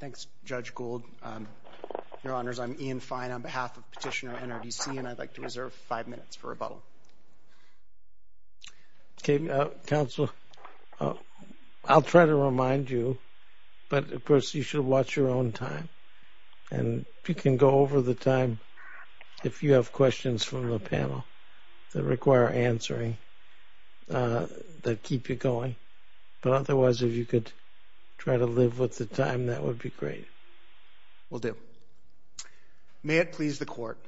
Thanks, Judge Gould. Your Honors, I'm Ian Fine on behalf of Petitioner NRDC, and I'd like to reserve five minutes for rebuttal. Okay. Counsel, I'll try to remind you, but of course you should watch your own time. And you can go over the time if you have questions from the panel that require answering that keep you going. But otherwise, if you could try to live with the time, that would be great. Will do. May it please the Court.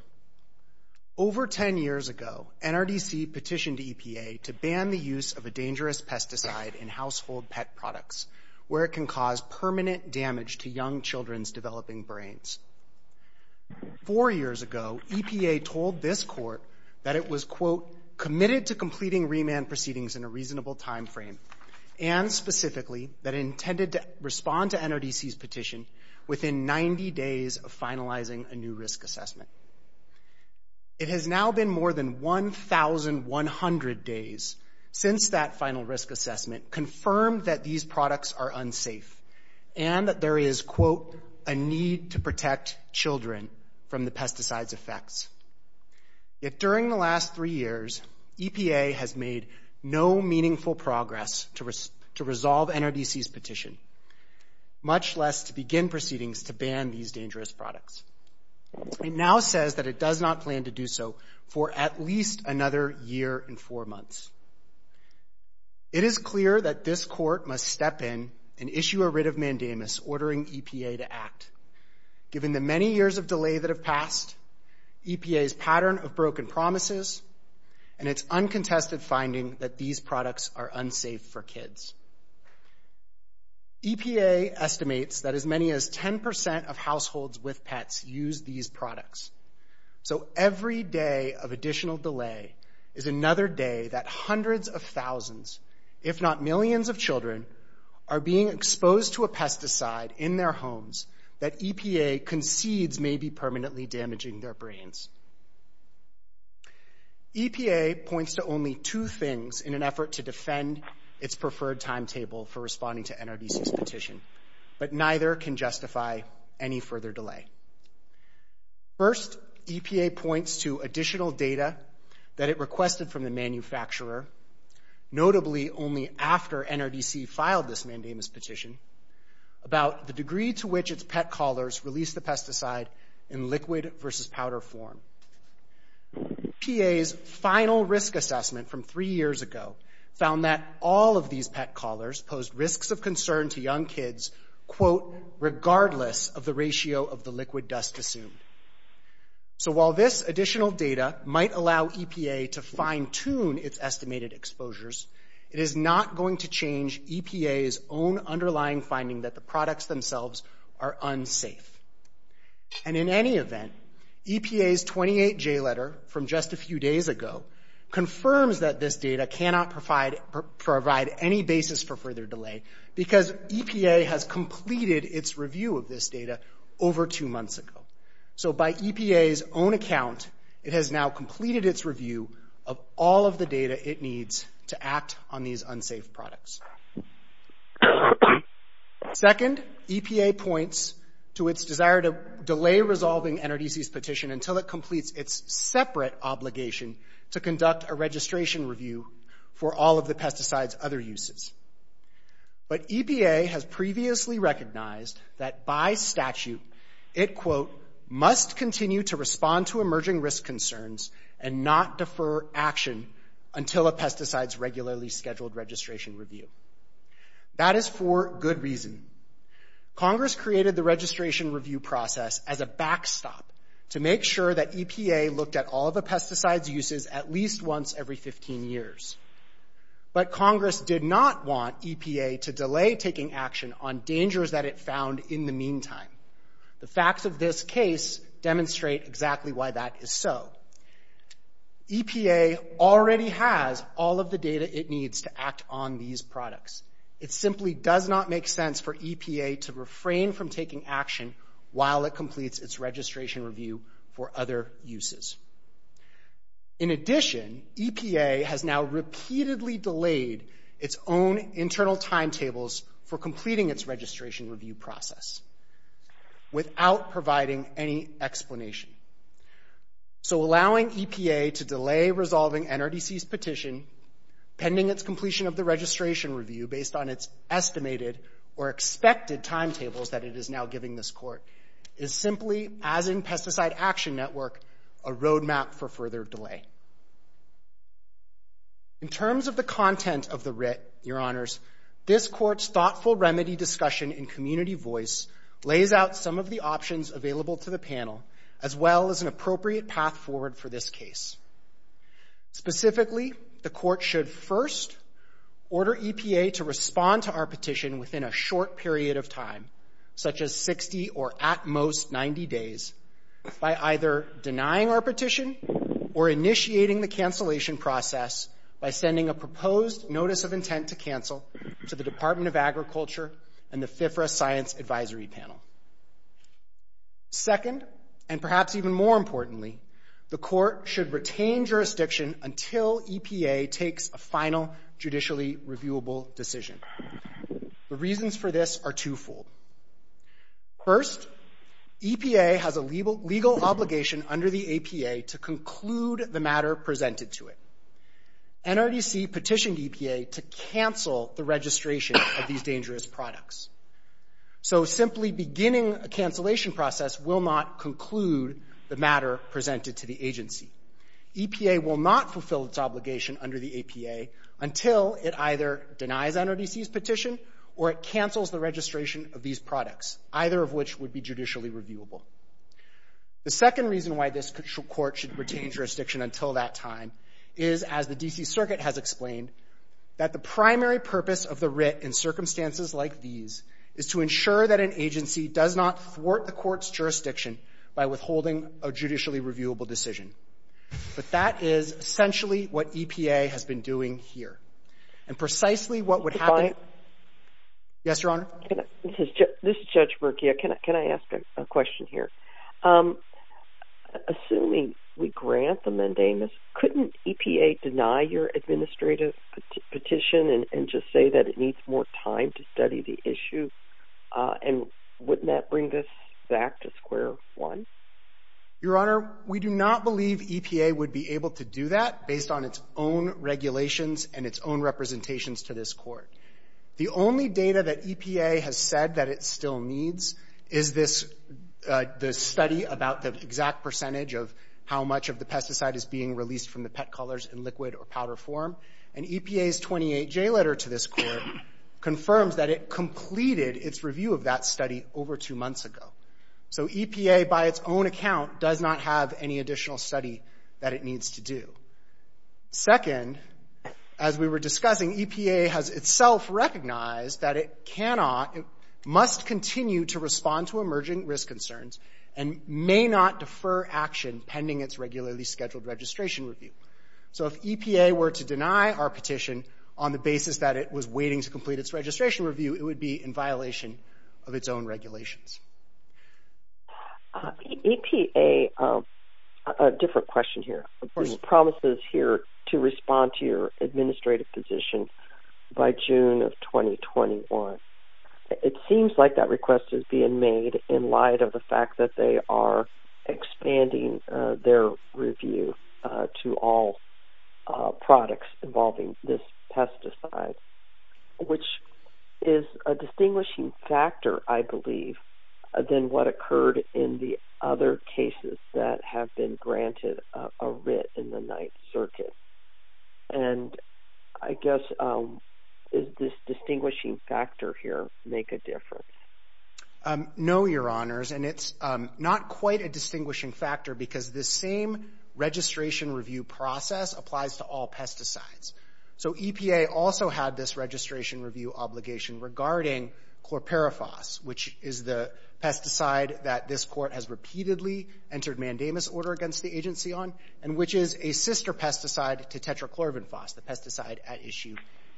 Over ten years ago, NRDC petitioned EPA to ban the use of a dangerous pesticide in household pet products, where it can cause permanent damage to young children's developing brains. Four years ago, EPA told this Court that it was, It has now been more than 1,100 days since that final risk assessment confirmed that these products are unsafe and that there is, quote, Yet during the last three years, EPA has made no meaningful progress to resolve NRDC's petition, much less to begin proceedings to ban these dangerous products. It now says that it does not plan to do so for at least another year and four months. It is clear that this Court must step in and issue a writ of mandamus ordering EPA to act, given the many years of delay that have passed, EPA's pattern of broken promises, and its uncontested finding that these products are unsafe for kids. EPA estimates that as many as 10% of households with pets use these products. So every day of additional delay is another day that hundreds of thousands, if not millions of children, are being exposed to a pesticide in their homes that EPA concedes may be permanently damaging their brains. EPA points to only two things in an effort to defend its preferred timetable for responding to NRDC's petition, but neither can justify any further delay. First, EPA points to additional data that it requested from the manufacturer, notably only after NRDC filed this mandamus petition, about the degree to which its pet callers release the pesticide in liquid versus powder form. EPA's final risk assessment from three years ago found that all of these pet callers posed risks of concern to young kids, quote, regardless of the ratio of the liquid dust assumed. So while this additional data might allow EPA to fine-tune its estimated exposures, it is not going to change EPA's own underlying finding that the products themselves are unsafe. And in any event, EPA's 28J letter from just a few days ago confirms that this data cannot provide any basis for further delay because EPA has completed its review of this data over two months ago. So by EPA's own account, it has now completed its review of all of the data it needs to act on these unsafe products. Second, EPA points to its desire to delay resolving NRDC's petition until it completes its separate obligation to conduct a registration review for all of the pesticide's other uses. But EPA has previously recognized that by statute it, quote, must continue to respond to emerging risk concerns and not defer action until a pesticide's regularly scheduled registration review. That is for good reason. Congress created the registration review process as a backstop to make sure that EPA looked at all of the pesticide's uses at least once every 15 years. But Congress did not want EPA to delay taking action on dangers that it found in the meantime. The facts of this case demonstrate exactly why that is so. EPA already has all of the data it needs to act on these products. It simply does not make sense for EPA to refrain from taking action while it completes its registration review for other uses. In addition, EPA has now repeatedly delayed its own internal timetables for completing its registration review process without providing any explanation. So allowing EPA to delay resolving NRDC's petition pending its completion of the registration review based on its estimated or expected timetables that it is now giving this court is simply, as in Pesticide Action Network, a roadmap for further delay. In terms of the content of the writ, Your Honors, this court's thoughtful remedy discussion in community voice lays out some of the options available to the panel as well as an appropriate path forward for this case. Specifically, the court should first order EPA to respond to our petition within a short period of time, such as 60 or at most 90 days, by either denying our petition or initiating the cancellation process by sending a proposed Notice of Intent to Cancel to the Department of Agriculture and the FIFRA Science Advisory Panel. Second, and perhaps even more importantly, the court should retain jurisdiction until EPA takes a final judicially reviewable decision. The reasons for this are twofold. First, EPA has a legal obligation under the APA to conclude the matter presented to it. NRDC petitioned EPA to cancel the registration of these dangerous products. So simply beginning a cancellation process will not conclude the matter presented to the agency. EPA will not fulfill its obligation under the APA until it either denies NRDC's petition or it cancels the registration of these products, either of which would be judicially reviewable. The second reason why this court should retain jurisdiction until that time is, as the D.C. Circuit has explained, that the primary purpose of the writ in circumstances like these is to ensure that an agency does not thwart the court's jurisdiction by withholding a judicially reviewable decision. But that is essentially what EPA has been doing here. And precisely what would happen... Yes, Your Honor? This is Judge Murkia. Can I ask a question here? Assuming we grant the mandamus, couldn't EPA deny your administrative petition and just say that it needs more time to study the issue? And wouldn't that bring this back to square one? Your Honor, we do not believe EPA would be able to do that based on its own regulations and its own representations to this court. The only data that EPA has said that it still needs is the study about the exact percentage of how much of the pesticide is being released from the pet collars in liquid or powder form. And EPA's 28-J letter to this court confirms that it completed its review of that study over two months ago. So EPA, by its own account, does not have any additional study that it needs to do. Second, as we were discussing, EPA has itself recognized that it cannot... must continue to respond to emerging risk concerns and may not defer action pending its regularly scheduled registration review. So if EPA were to deny our petition on the basis that it was waiting to complete its registration review, it would be in violation of its own regulations. EPA, a different question here, promises here to respond to your administrative position by June of 2021. It seems like that request is being made in light of the fact that they are expanding their review to all products involving this pesticide, which is a distinguishing factor, I believe, than what occurred in the other cases that have been granted a writ in the Ninth Circuit. And I guess, does this distinguishing factor here make a difference? No, Your Honors, and it's not quite a distinguishing factor because this same registration review process applies to all pesticides. So EPA also had this registration review obligation regarding chlorperifos, which is the pesticide that this Court has repeatedly entered mandamus order against the agency on, and which is a sister pesticide to tetrachlorbenfos, the pesticide at issue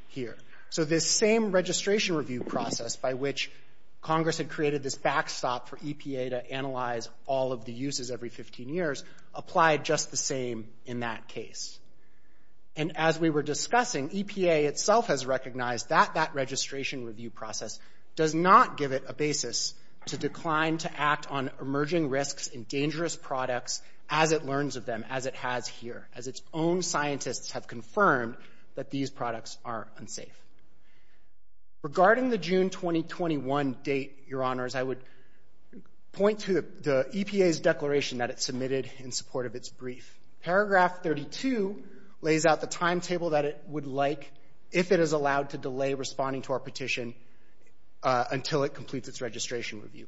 here. So this same registration review process by which Congress had created this backstop for EPA to analyze all of the uses every 15 years applied just the same in that case. And as we were discussing, EPA itself has recognized that that registration review process does not give it a basis to decline to act on emerging risks in dangerous products as it learns of them, as it has here, as its own scientists have confirmed that these products are unsafe. Regarding the June 2021 date, Your Honors, I would point to the EPA's declaration that it submitted in support of its brief. Paragraph 32 lays out the timetable that it would like if it is allowed to delay responding to our petition until it completes its registration review.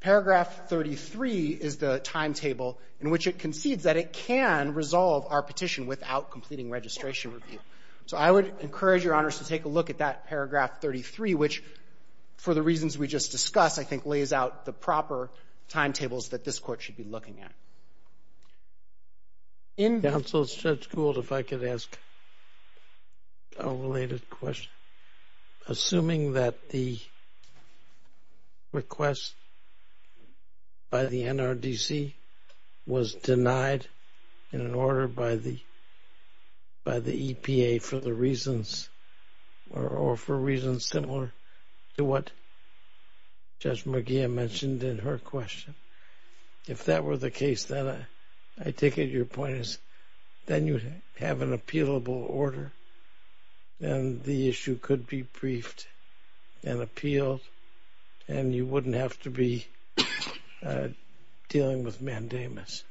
Paragraph 33 is the timetable in which it concedes that it can resolve our petition without completing registration review. So I would encourage Your Honors to take a look at that paragraph 33, which, for the reasons we just discussed, I think lays out the proper timetables that this Court should be looking at. In counsel, Judge Gould, if I could ask a related question. Assuming that the request by the NRDC was denied in an order by the EPA for the reasons or for reasons similar to what Judge McGeehan mentioned in her question, if that were the case, then I take it your point is then you have an appealable order and the issue could be briefed and appealed and you wouldn't have to be dealing with mandamus.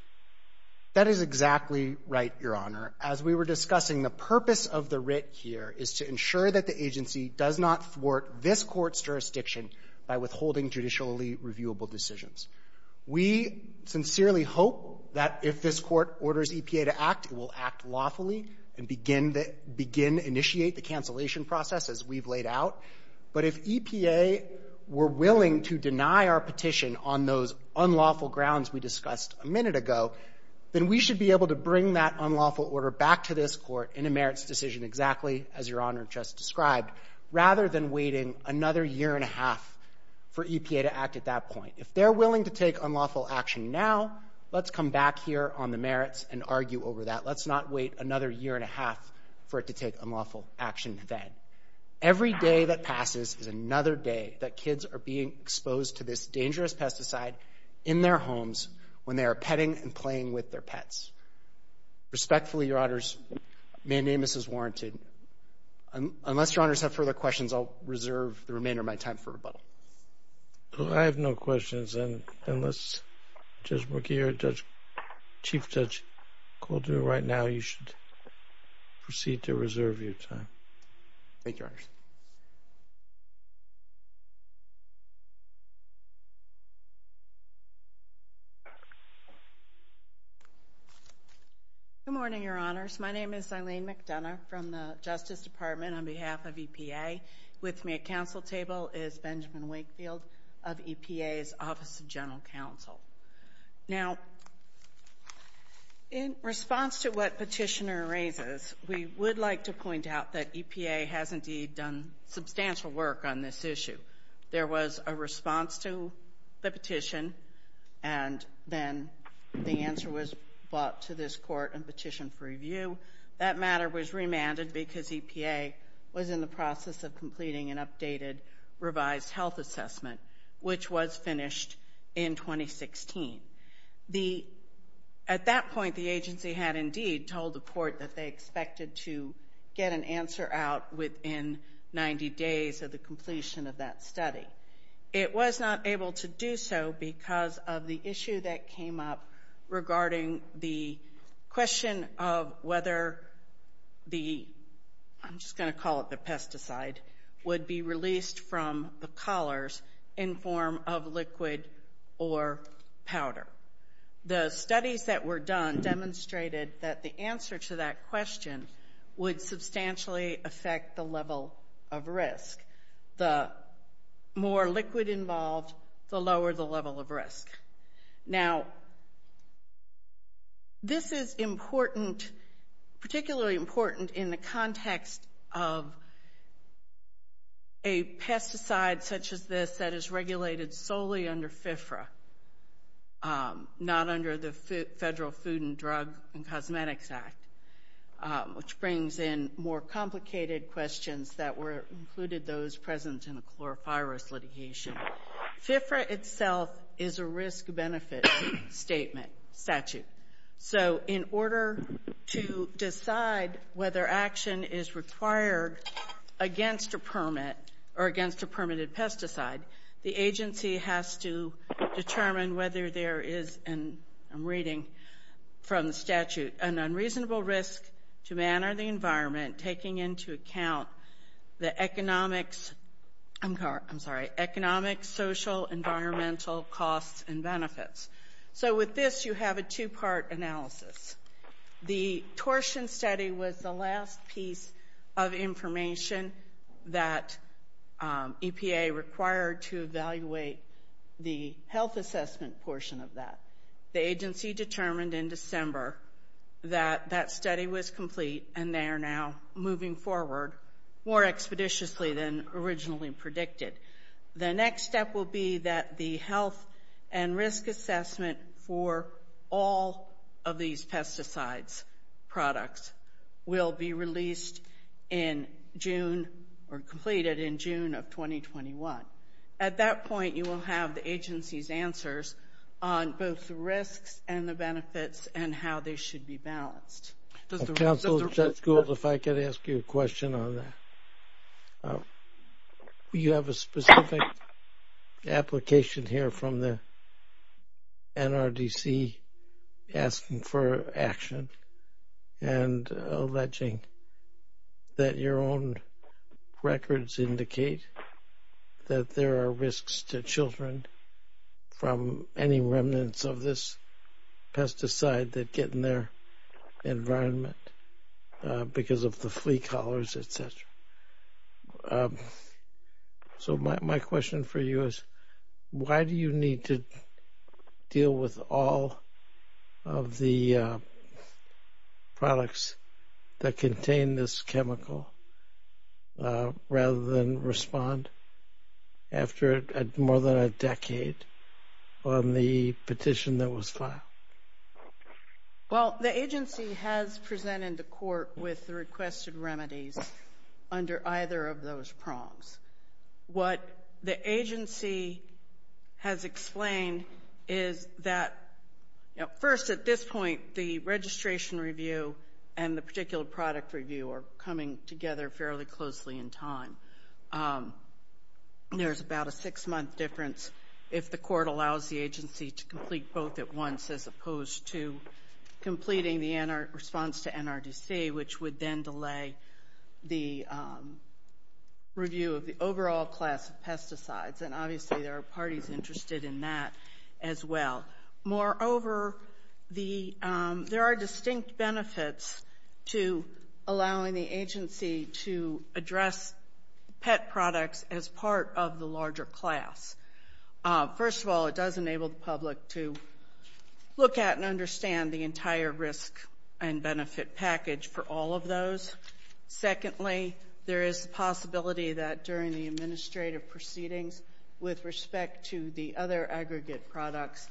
That is exactly right, Your Honor. As we were discussing, the purpose of the writ here is to ensure that the agency does not thwart this Court's jurisdiction by withholding judicially reviewable decisions. We sincerely hope that if this Court orders EPA to act, it will act lawfully and begin to initiate the cancellation process as we've laid out. But if EPA were willing to deny our petition on those unlawful grounds we discussed a minute ago, then we should be able to bring that unlawful order back to this Court in a merits decision exactly as Your Honor just described, rather than waiting another year and a half for EPA to act at that point. If they're willing to take unlawful action now, let's come back here on the merits and argue over that. Let's not wait another year and a half for it to take unlawful action then. Every day that passes is another day that kids are being exposed to this dangerous pesticide in their homes when they are petting and playing with their pets. Respectfully, Your Honors, mandamus is warranted. Unless Your Honors have further questions, I'll reserve the remainder of my time for rebuttal. I have no questions. Unless Judge McGeer or Chief Judge Coulter right now, you should proceed to reserve your time. Good morning, Your Honors. My name is Eileen McDonough from the Justice Department on behalf of EPA. With me at counsel table is Benjamin Wakefield of EPA's Office of General Counsel. Now, in response to what Petitioner raises, we would like to point out that EPA has indeed done substantial work on this issue. There was a response to the petition, and then the answer was brought to this court in petition for review. That matter was remanded because EPA was in the process of completing an updated revised health assessment, which was finished in 2016. At that point, the agency had indeed told the court that they expected to get an answer out within 90 days of the completion of that study. It was not able to do so because of the issue that came up regarding the question of whether the, I'm just going to call it the pesticide, would be released from the collars in form of liquid or powder. The studies that were done demonstrated that the answer to that question would substantially affect the level of risk. The more liquid involved, the lower the level of risk. Now, this is important, particularly important in the context of a pesticide such as this that is regulated solely under FFRA, not under the Federal Food and Drug and Cosmetics Act, which brings in more complicated questions that included those present in a chlorofirus litigation. FFRA itself is a risk-benefit statement statute. So in order to decide whether action is required against a permit or against a permitted pesticide, the agency has to determine whether there is, and I'm reading from the statute, an unreasonable risk to man or the environment taking into account the economic, I'm sorry, economic, social, environmental costs and benefits. So with this, you have a two-part analysis. The torsion study was the last piece of information that EPA required to evaluate the health assessment portion of that. The agency determined in December that that study was complete and they are now moving forward more expeditiously than originally predicted. The next step will be that the health and risk assessment for all of these pesticides products will be released in June or completed in June of 2021. At that point, you will have the agency's answers on both the risks and the benefits and how they should be balanced. Council, Judge Gould, if I could ask you a question on that. You have a specific application here from the NRDC asking for action and alleging that your own records indicate that there are risks to children from any remnants of this pesticide that get in their environment because of the flea collars, et cetera. So my question for you is, why do you need to deal with all of the products that contain this chemical rather than respond after more than a decade on the petition that was filed? Well, the agency has presented to court with the requested remedies under either of those prongs. What the agency has explained is that, first, at this point, the registration review and the particular product review are coming together fairly closely in time. There's about a six-month difference if the court allows the agency to complete both at once as opposed to completing the response to NRDC, which would then delay the review of the overall class of pesticides, and obviously there are parties interested in that as well. Moreover, there are distinct benefits to allowing the agency to address pet products as part of the larger class. First of all, it does enable the public to look at and understand the entire risk and benefit package for all of those. Secondly, there is the possibility that during the administrative proceedings with respect to the other aggregate products,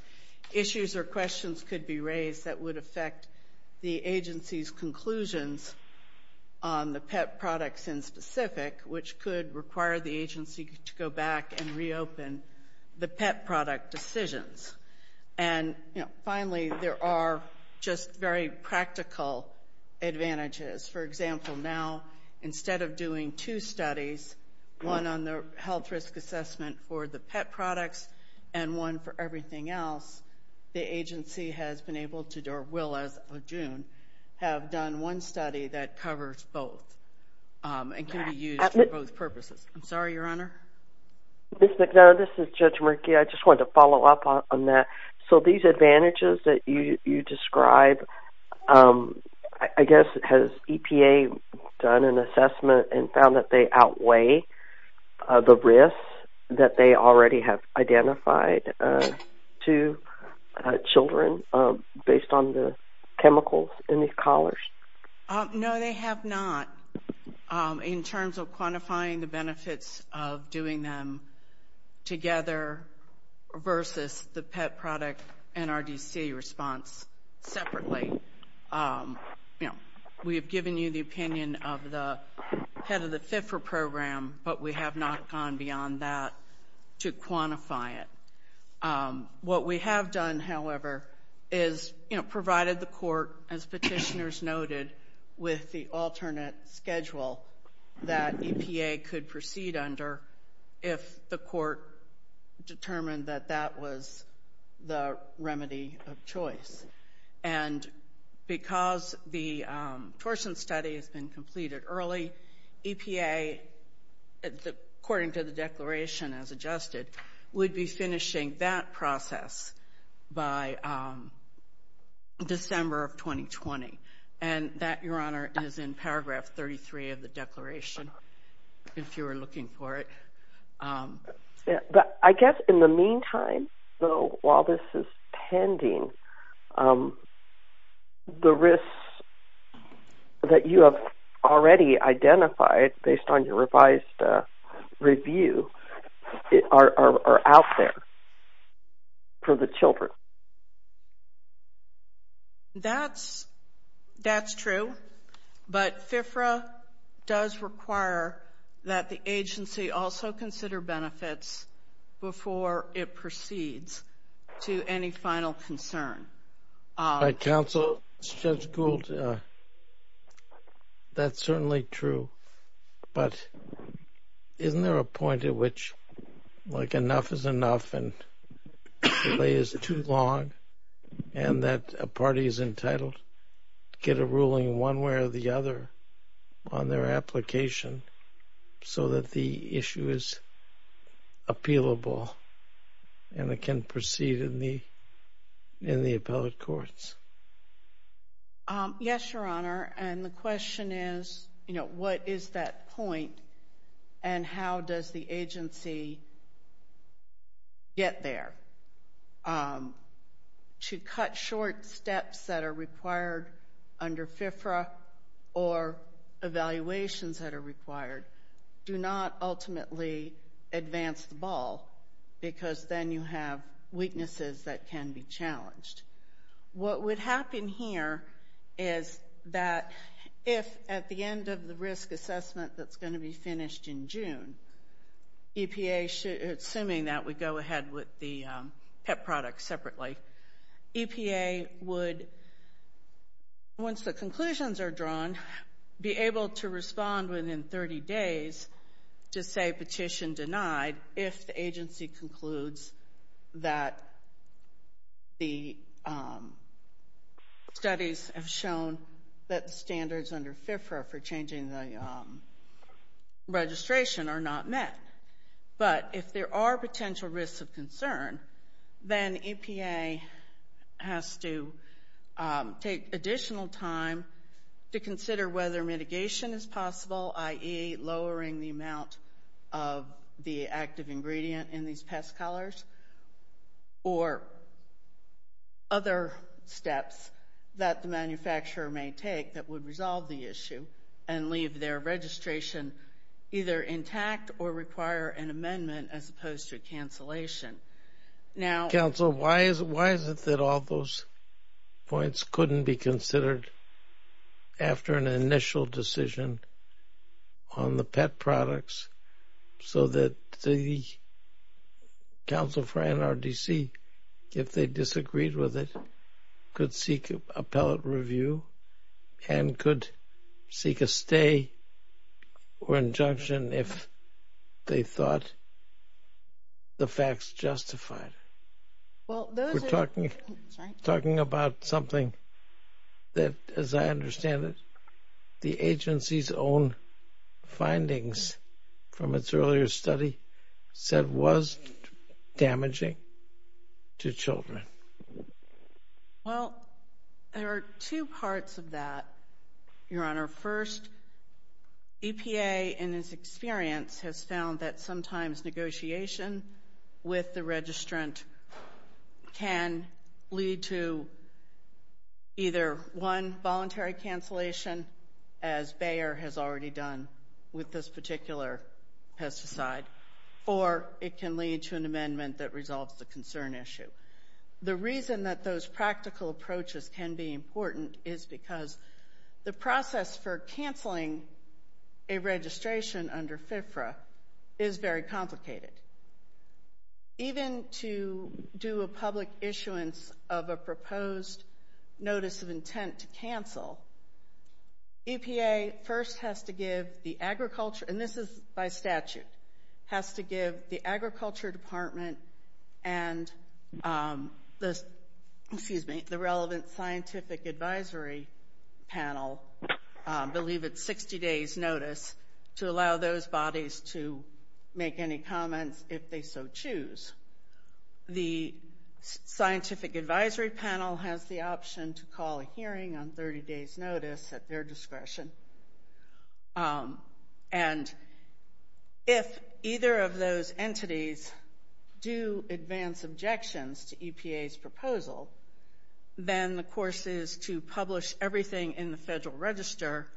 issues or questions could be raised that would affect the agency's conclusions on the pet products in specific, which could require the agency to go back and reopen the pet product decisions. And finally, there are just very practical advantages. For example, now, instead of doing two studies, one on the health risk assessment for the pet products and one for everything else, the agency has been able to, or will as of June, have done one study that covers both and can be used for both purposes. I'm sorry, Your Honor. Ms. McNair, this is Judge Murky. I just wanted to follow up on that. So these advantages that you describe, I guess, has EPA done an assessment and found that they outweigh the risk that they already have identified to children based on the chemicals in these collars? No, they have not in terms of quantifying the benefits of doing them together versus the pet product NRDC response separately. We have given you the opinion of the head of the FIFRA program, but we have not gone beyond that to quantify it. What we have done, however, is provided the court, as petitioners noted, with the alternate schedule that EPA could proceed under if the court determined that that was the remedy of choice. And because the torsion study has been completed early, EPA, according to the declaration as adjusted, would be finishing that process by December of 2020. And that, Your Honor, is in paragraph 33 of the declaration, if you were looking for it. I guess in the meantime, though, while this is pending, the risks that you have already identified based on your revised review are out there for the children. That's true. But FIFRA does require that the agency also consider benefits before it proceeds to any final concern. Counsel, Judge Gould, that's certainly true. But isn't there a point at which, like, enough is enough and delay is too long and that a party is entitled to get a ruling one way or the other on their application so that the issue is appealable and it can proceed in the appellate courts? Yes, Your Honor, and the question is, you know, what is that point and how does the agency get there? To cut short steps that are required under FIFRA or evaluations that are required do not ultimately advance the ball because then you have weaknesses that can be challenged. What would happen here is that if at the end of the risk assessment that's going to be finished in June, EPA, assuming that we go ahead with the PEP products separately, EPA would, once the conclusions are drawn, be able to respond within 30 days to say petition denied if the agency concludes that the studies have shown that the standards under FIFRA for changing the registration are not met. But if there are potential risks of concern, then EPA has to take additional time to consider whether mitigation is possible, i.e. lowering the amount of the active ingredient in these pest collars or other steps that the manufacturer may take that would resolve the issue and leave their registration either intact or require an amendment as opposed to a cancellation. Counsel, why is it that all those points couldn't be considered after an initial decision on the PEP products so that the counsel for NRDC, if they disagreed with it, could seek appellate review and could seek a stay or injunction if they thought the facts justified? We're talking about something that, as I understand it, the agency's own findings from its earlier study said was damaging to children. Well, there are two parts of that, Your Honor. First, EPA in its experience has found that sometimes negotiation with the registrant can lead to either one voluntary cancellation, as Bayer has already done with this particular pesticide, or it can lead to an amendment that resolves the concern issue. The reason that those practical approaches can be important is because the process for canceling a registration under FFRA is very complicated. Even to do a public issuance of a proposed notice of intent to cancel, EPA first has to give the agriculture, and this is by statute, has to give the agriculture department and the relevant scientific advisory panel, I believe it's 60 days notice, to allow those bodies to make any comments if they so choose. The scientific advisory panel has the option to call a hearing on 30 days notice at their discretion. And if either of those entities do advance objections to EPA's proposal, then the course is to publish everything in the Federal Register,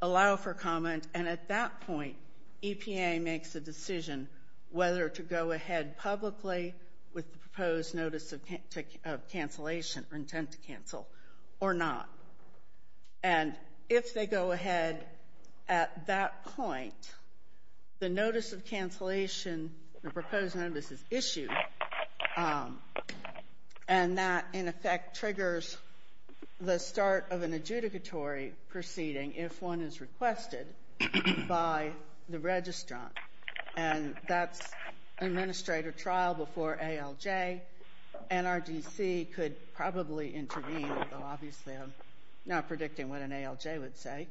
allow for comment, and at that point EPA makes a decision whether to go ahead publicly with the proposed notice of cancellation or intent to cancel or not. And if they go ahead at that point, the notice of cancellation, the proposed notice is issued, and that, in effect, triggers the start of an adjudicatory proceeding if one is requested by the registrant. And that's administrative trial before ALJ. NRDC could probably intervene, although obviously I'm not predicting what an ALJ would say.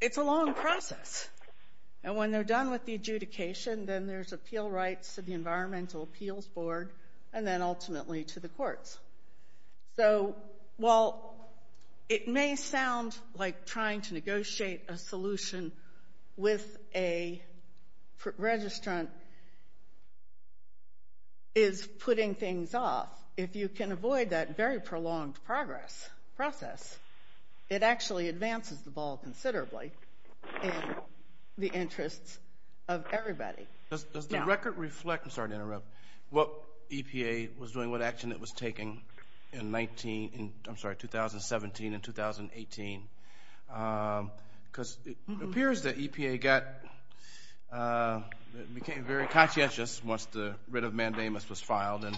It's a long process. And when they're done with the adjudication, then there's appeal rights to the Environmental Appeals Board and then ultimately to the courts. So while it may sound like trying to negotiate a solution with a registrant is putting things off, if you can avoid that very prolonged progress process, it actually advances the ball considerably in the interests of everybody. Does the record reflect what EPA was doing, what action it was taking in 2017 and 2018? Because it appears that EPA became very conscientious once the writ of mandamus was filed and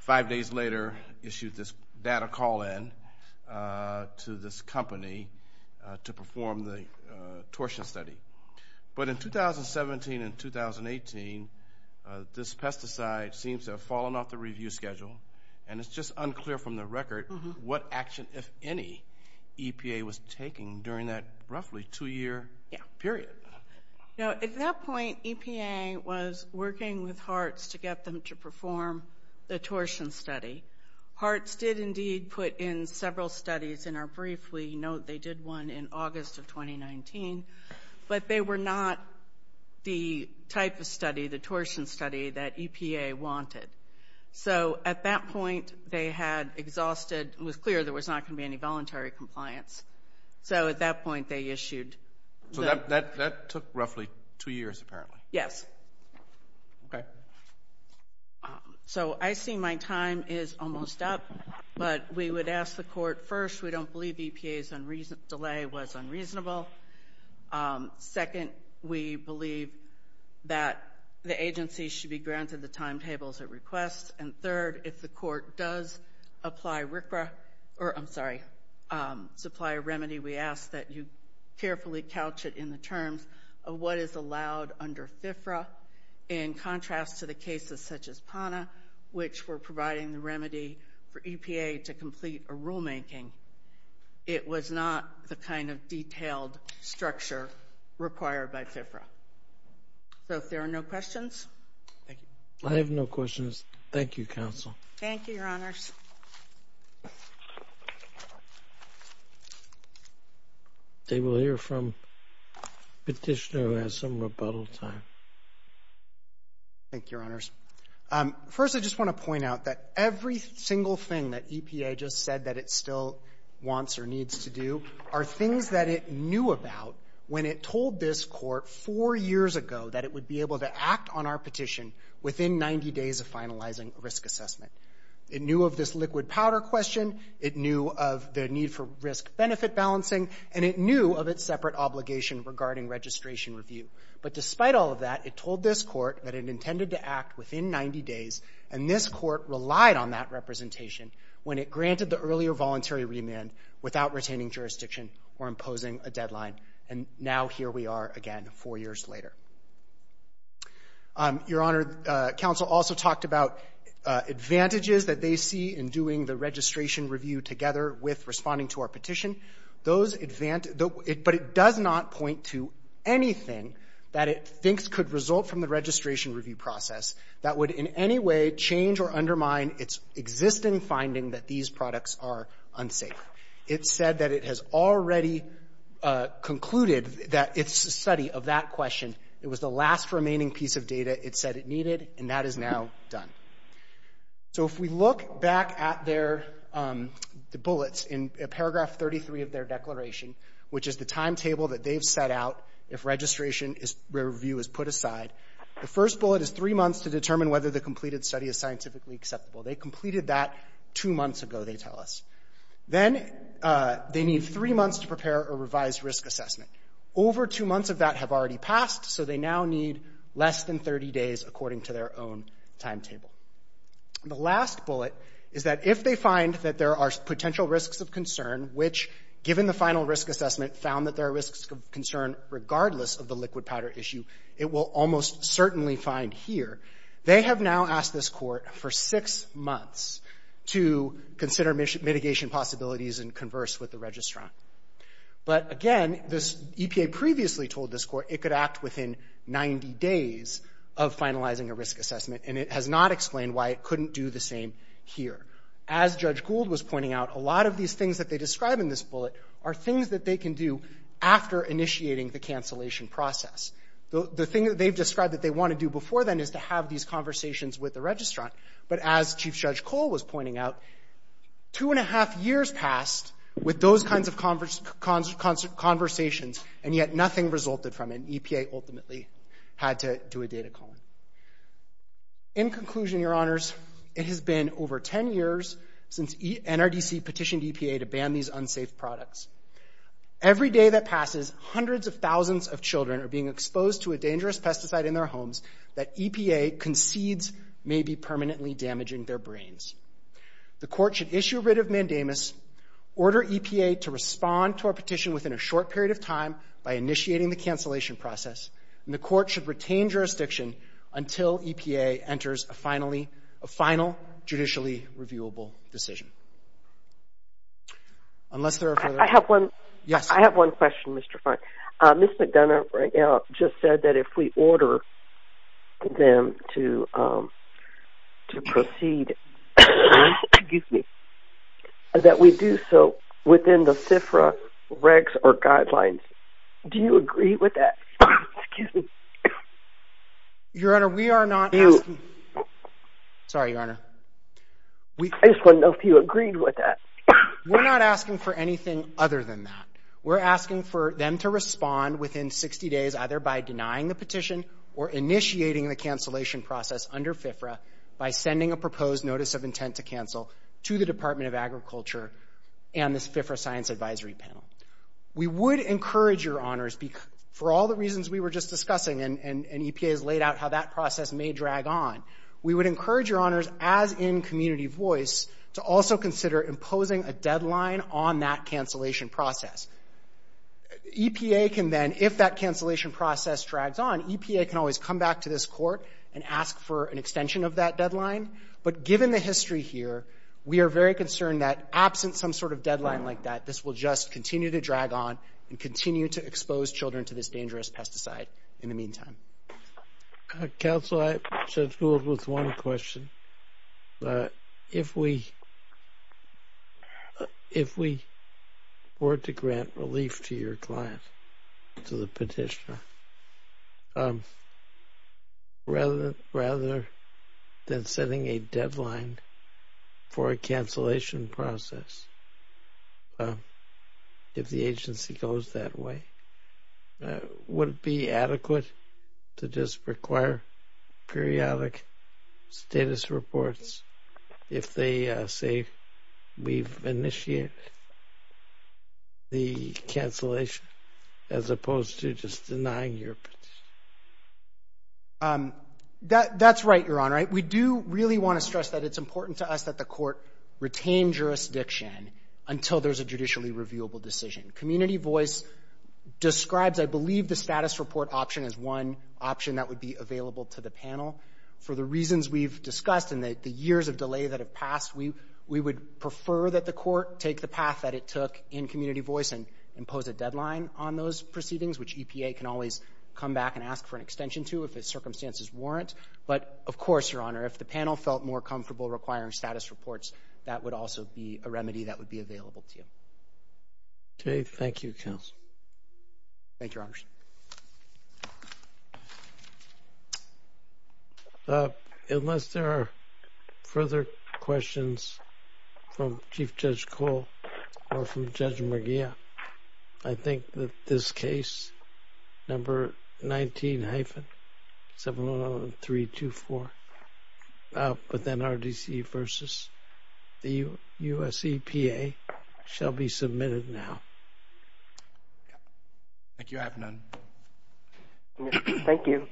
five days later issued this data call-in to this company to perform the torsion study. But in 2017 and 2018, this pesticide seems to have fallen off the review schedule, and it's just unclear from the record what action, if any, EPA was taking during that roughly two-year period. At that point, EPA was working with HARTS to get them to perform the torsion study. HARTS did indeed put in several studies in our brief. We note they did one in August of 2019. But they were not the type of study, the torsion study, that EPA wanted. So at that point, it was clear there was not going to be any voluntary compliance. So at that point, they issued the- So that took roughly two years, apparently. Yes. Okay. So I see my time is almost up, but we would ask the court, first, we don't believe EPA's delay was unreasonable. Second, we believe that the agency should be granted the timetables it requests. And third, if the court does supply a remedy, we ask that you carefully couch it in the terms of what is allowed under FFRA. In contrast to the cases such as PANA, which were providing the remedy for EPA to complete a rulemaking, it was not the kind of detailed structure required by FFRA. So if there are no questions. Thank you. I have no questions. Thank you, counsel. Thank you, Your Honors. They will hear from a petitioner who has some rebuttal time. Thank you, Your Honors. First, I just want to point out that every single thing that EPA just said that it still wants or needs to do are things that it knew about when it told this court four years ago that it would be able to act on our petition within 90 days of finalizing a risk assessment. It knew of this liquid powder question. It knew of the need for risk-benefit balancing. And it knew of its separate obligation regarding registration review. But despite all of that, it told this court that it intended to act within 90 days, and this court relied on that representation when it granted the earlier voluntary remand without retaining jurisdiction or imposing a deadline. And now here we are again four years later. Your Honor, counsel also talked about advantages that they see in doing the registration review together with responding to our petition. But it does not point to anything that it thinks could result from the registration review process that would in any way change or undermine its existing finding that these products are unsafe. It said that it has already concluded that its study of that question, it was the last remaining piece of data it said it needed, and that is now done. So if we look back at their bullets in paragraph 33 of their declaration, which is the timetable that they've set out if registration review is put aside, the first bullet is three months to determine whether the completed study is scientifically acceptable. They completed that two months ago, they tell us. Then they need three months to prepare a revised risk assessment. Over two months of that have already passed, so they now need less than 30 days, according to their own timetable. The last bullet is that if they find that there are potential risks of concern, which, given the final risk assessment, found that there are risks of concern regardless of the liquid powder issue, it will almost certainly find here. They have now asked this Court for six months to consider mitigation possibilities and converse with the registrant. But again, this EPA previously told this Court it could act within 90 days of finalizing a risk assessment, and it has not explained why it couldn't do the same here. As Judge Gould was pointing out, a lot of these things that they describe in this bullet are things that they can do after initiating the cancellation process. The thing that they've described that they want to do before then is to have these conversations with the registrant. But as Chief Judge Cole was pointing out, two and a half years passed with those kinds of conversations, and yet nothing resulted from it. EPA ultimately had to do a data column. In conclusion, Your Honors, it has been over 10 years since NRDC petitioned EPA to ban these unsafe products. Every day that passes, hundreds of thousands of children are being exposed to a dangerous pesticide in their homes that EPA concedes may be permanently damaging their brains. The Court should issue a writ of mandamus, order EPA to respond to our petition within a short period of time by initiating the cancellation process, and the Court should retain jurisdiction until EPA enters a final, judicially reviewable decision. I have one question, Mr. Fine. Ms. McDonough just said that if we order them to proceed, that we do so within the CFRA regs or guidelines. Do you agree with that? Your Honor, we are not asking... Sorry, Your Honor. I just wanted to know if you agreed with that. We're not asking for anything other than that. We're asking for them to respond within 60 days either by denying the petition or initiating the cancellation process under CFRA by sending a proposed notice of intent to cancel to the Department of Agriculture and this CFRA Science Advisory Panel. We would encourage Your Honors, for all the reasons we were just discussing and EPA has We would encourage Your Honors, as in community voice, to also consider imposing a deadline on that cancellation process. EPA can then, if that cancellation process drags on, EPA can always come back to this Court and ask for an extension of that deadline, but given the history here, we are very concerned that absent some sort of deadline like that, this will just continue to drag on and continue to expose children to this dangerous pesticide in the meantime. Counsel, I'm scheduled with one question. If we were to grant relief to your client, to the petitioner, rather than setting a deadline for a cancellation process if the agency goes that way, would it be adequate to just require periodic status reports if they say we've initiated the cancellation as opposed to just denying your petition? That's right, Your Honor. We do really want to stress that it's important to us that the Court retain jurisdiction until there's a judicially reviewable decision. Community voice describes, I believe, the status report option as one option that would be available to the panel. For the reasons we've discussed and the years of delay that have passed, we would prefer that the Court take the path that it took in community voice and impose a deadline on those proceedings, which EPA can always come back and ask for an extension to if the circumstances warrant. But of course, Your Honor, if the panel felt more comfortable requiring status reports, that would also be a remedy that would be available to you. Okay, thank you, counsel. Thank you, Your Honor. Unless there are further questions from Chief Judge Cole or from Judge Murgia, I think that this case, number 19-710324, with NRDC versus the U.S. EPA, shall be submitted now. Thank you, Your Honor. Thank you.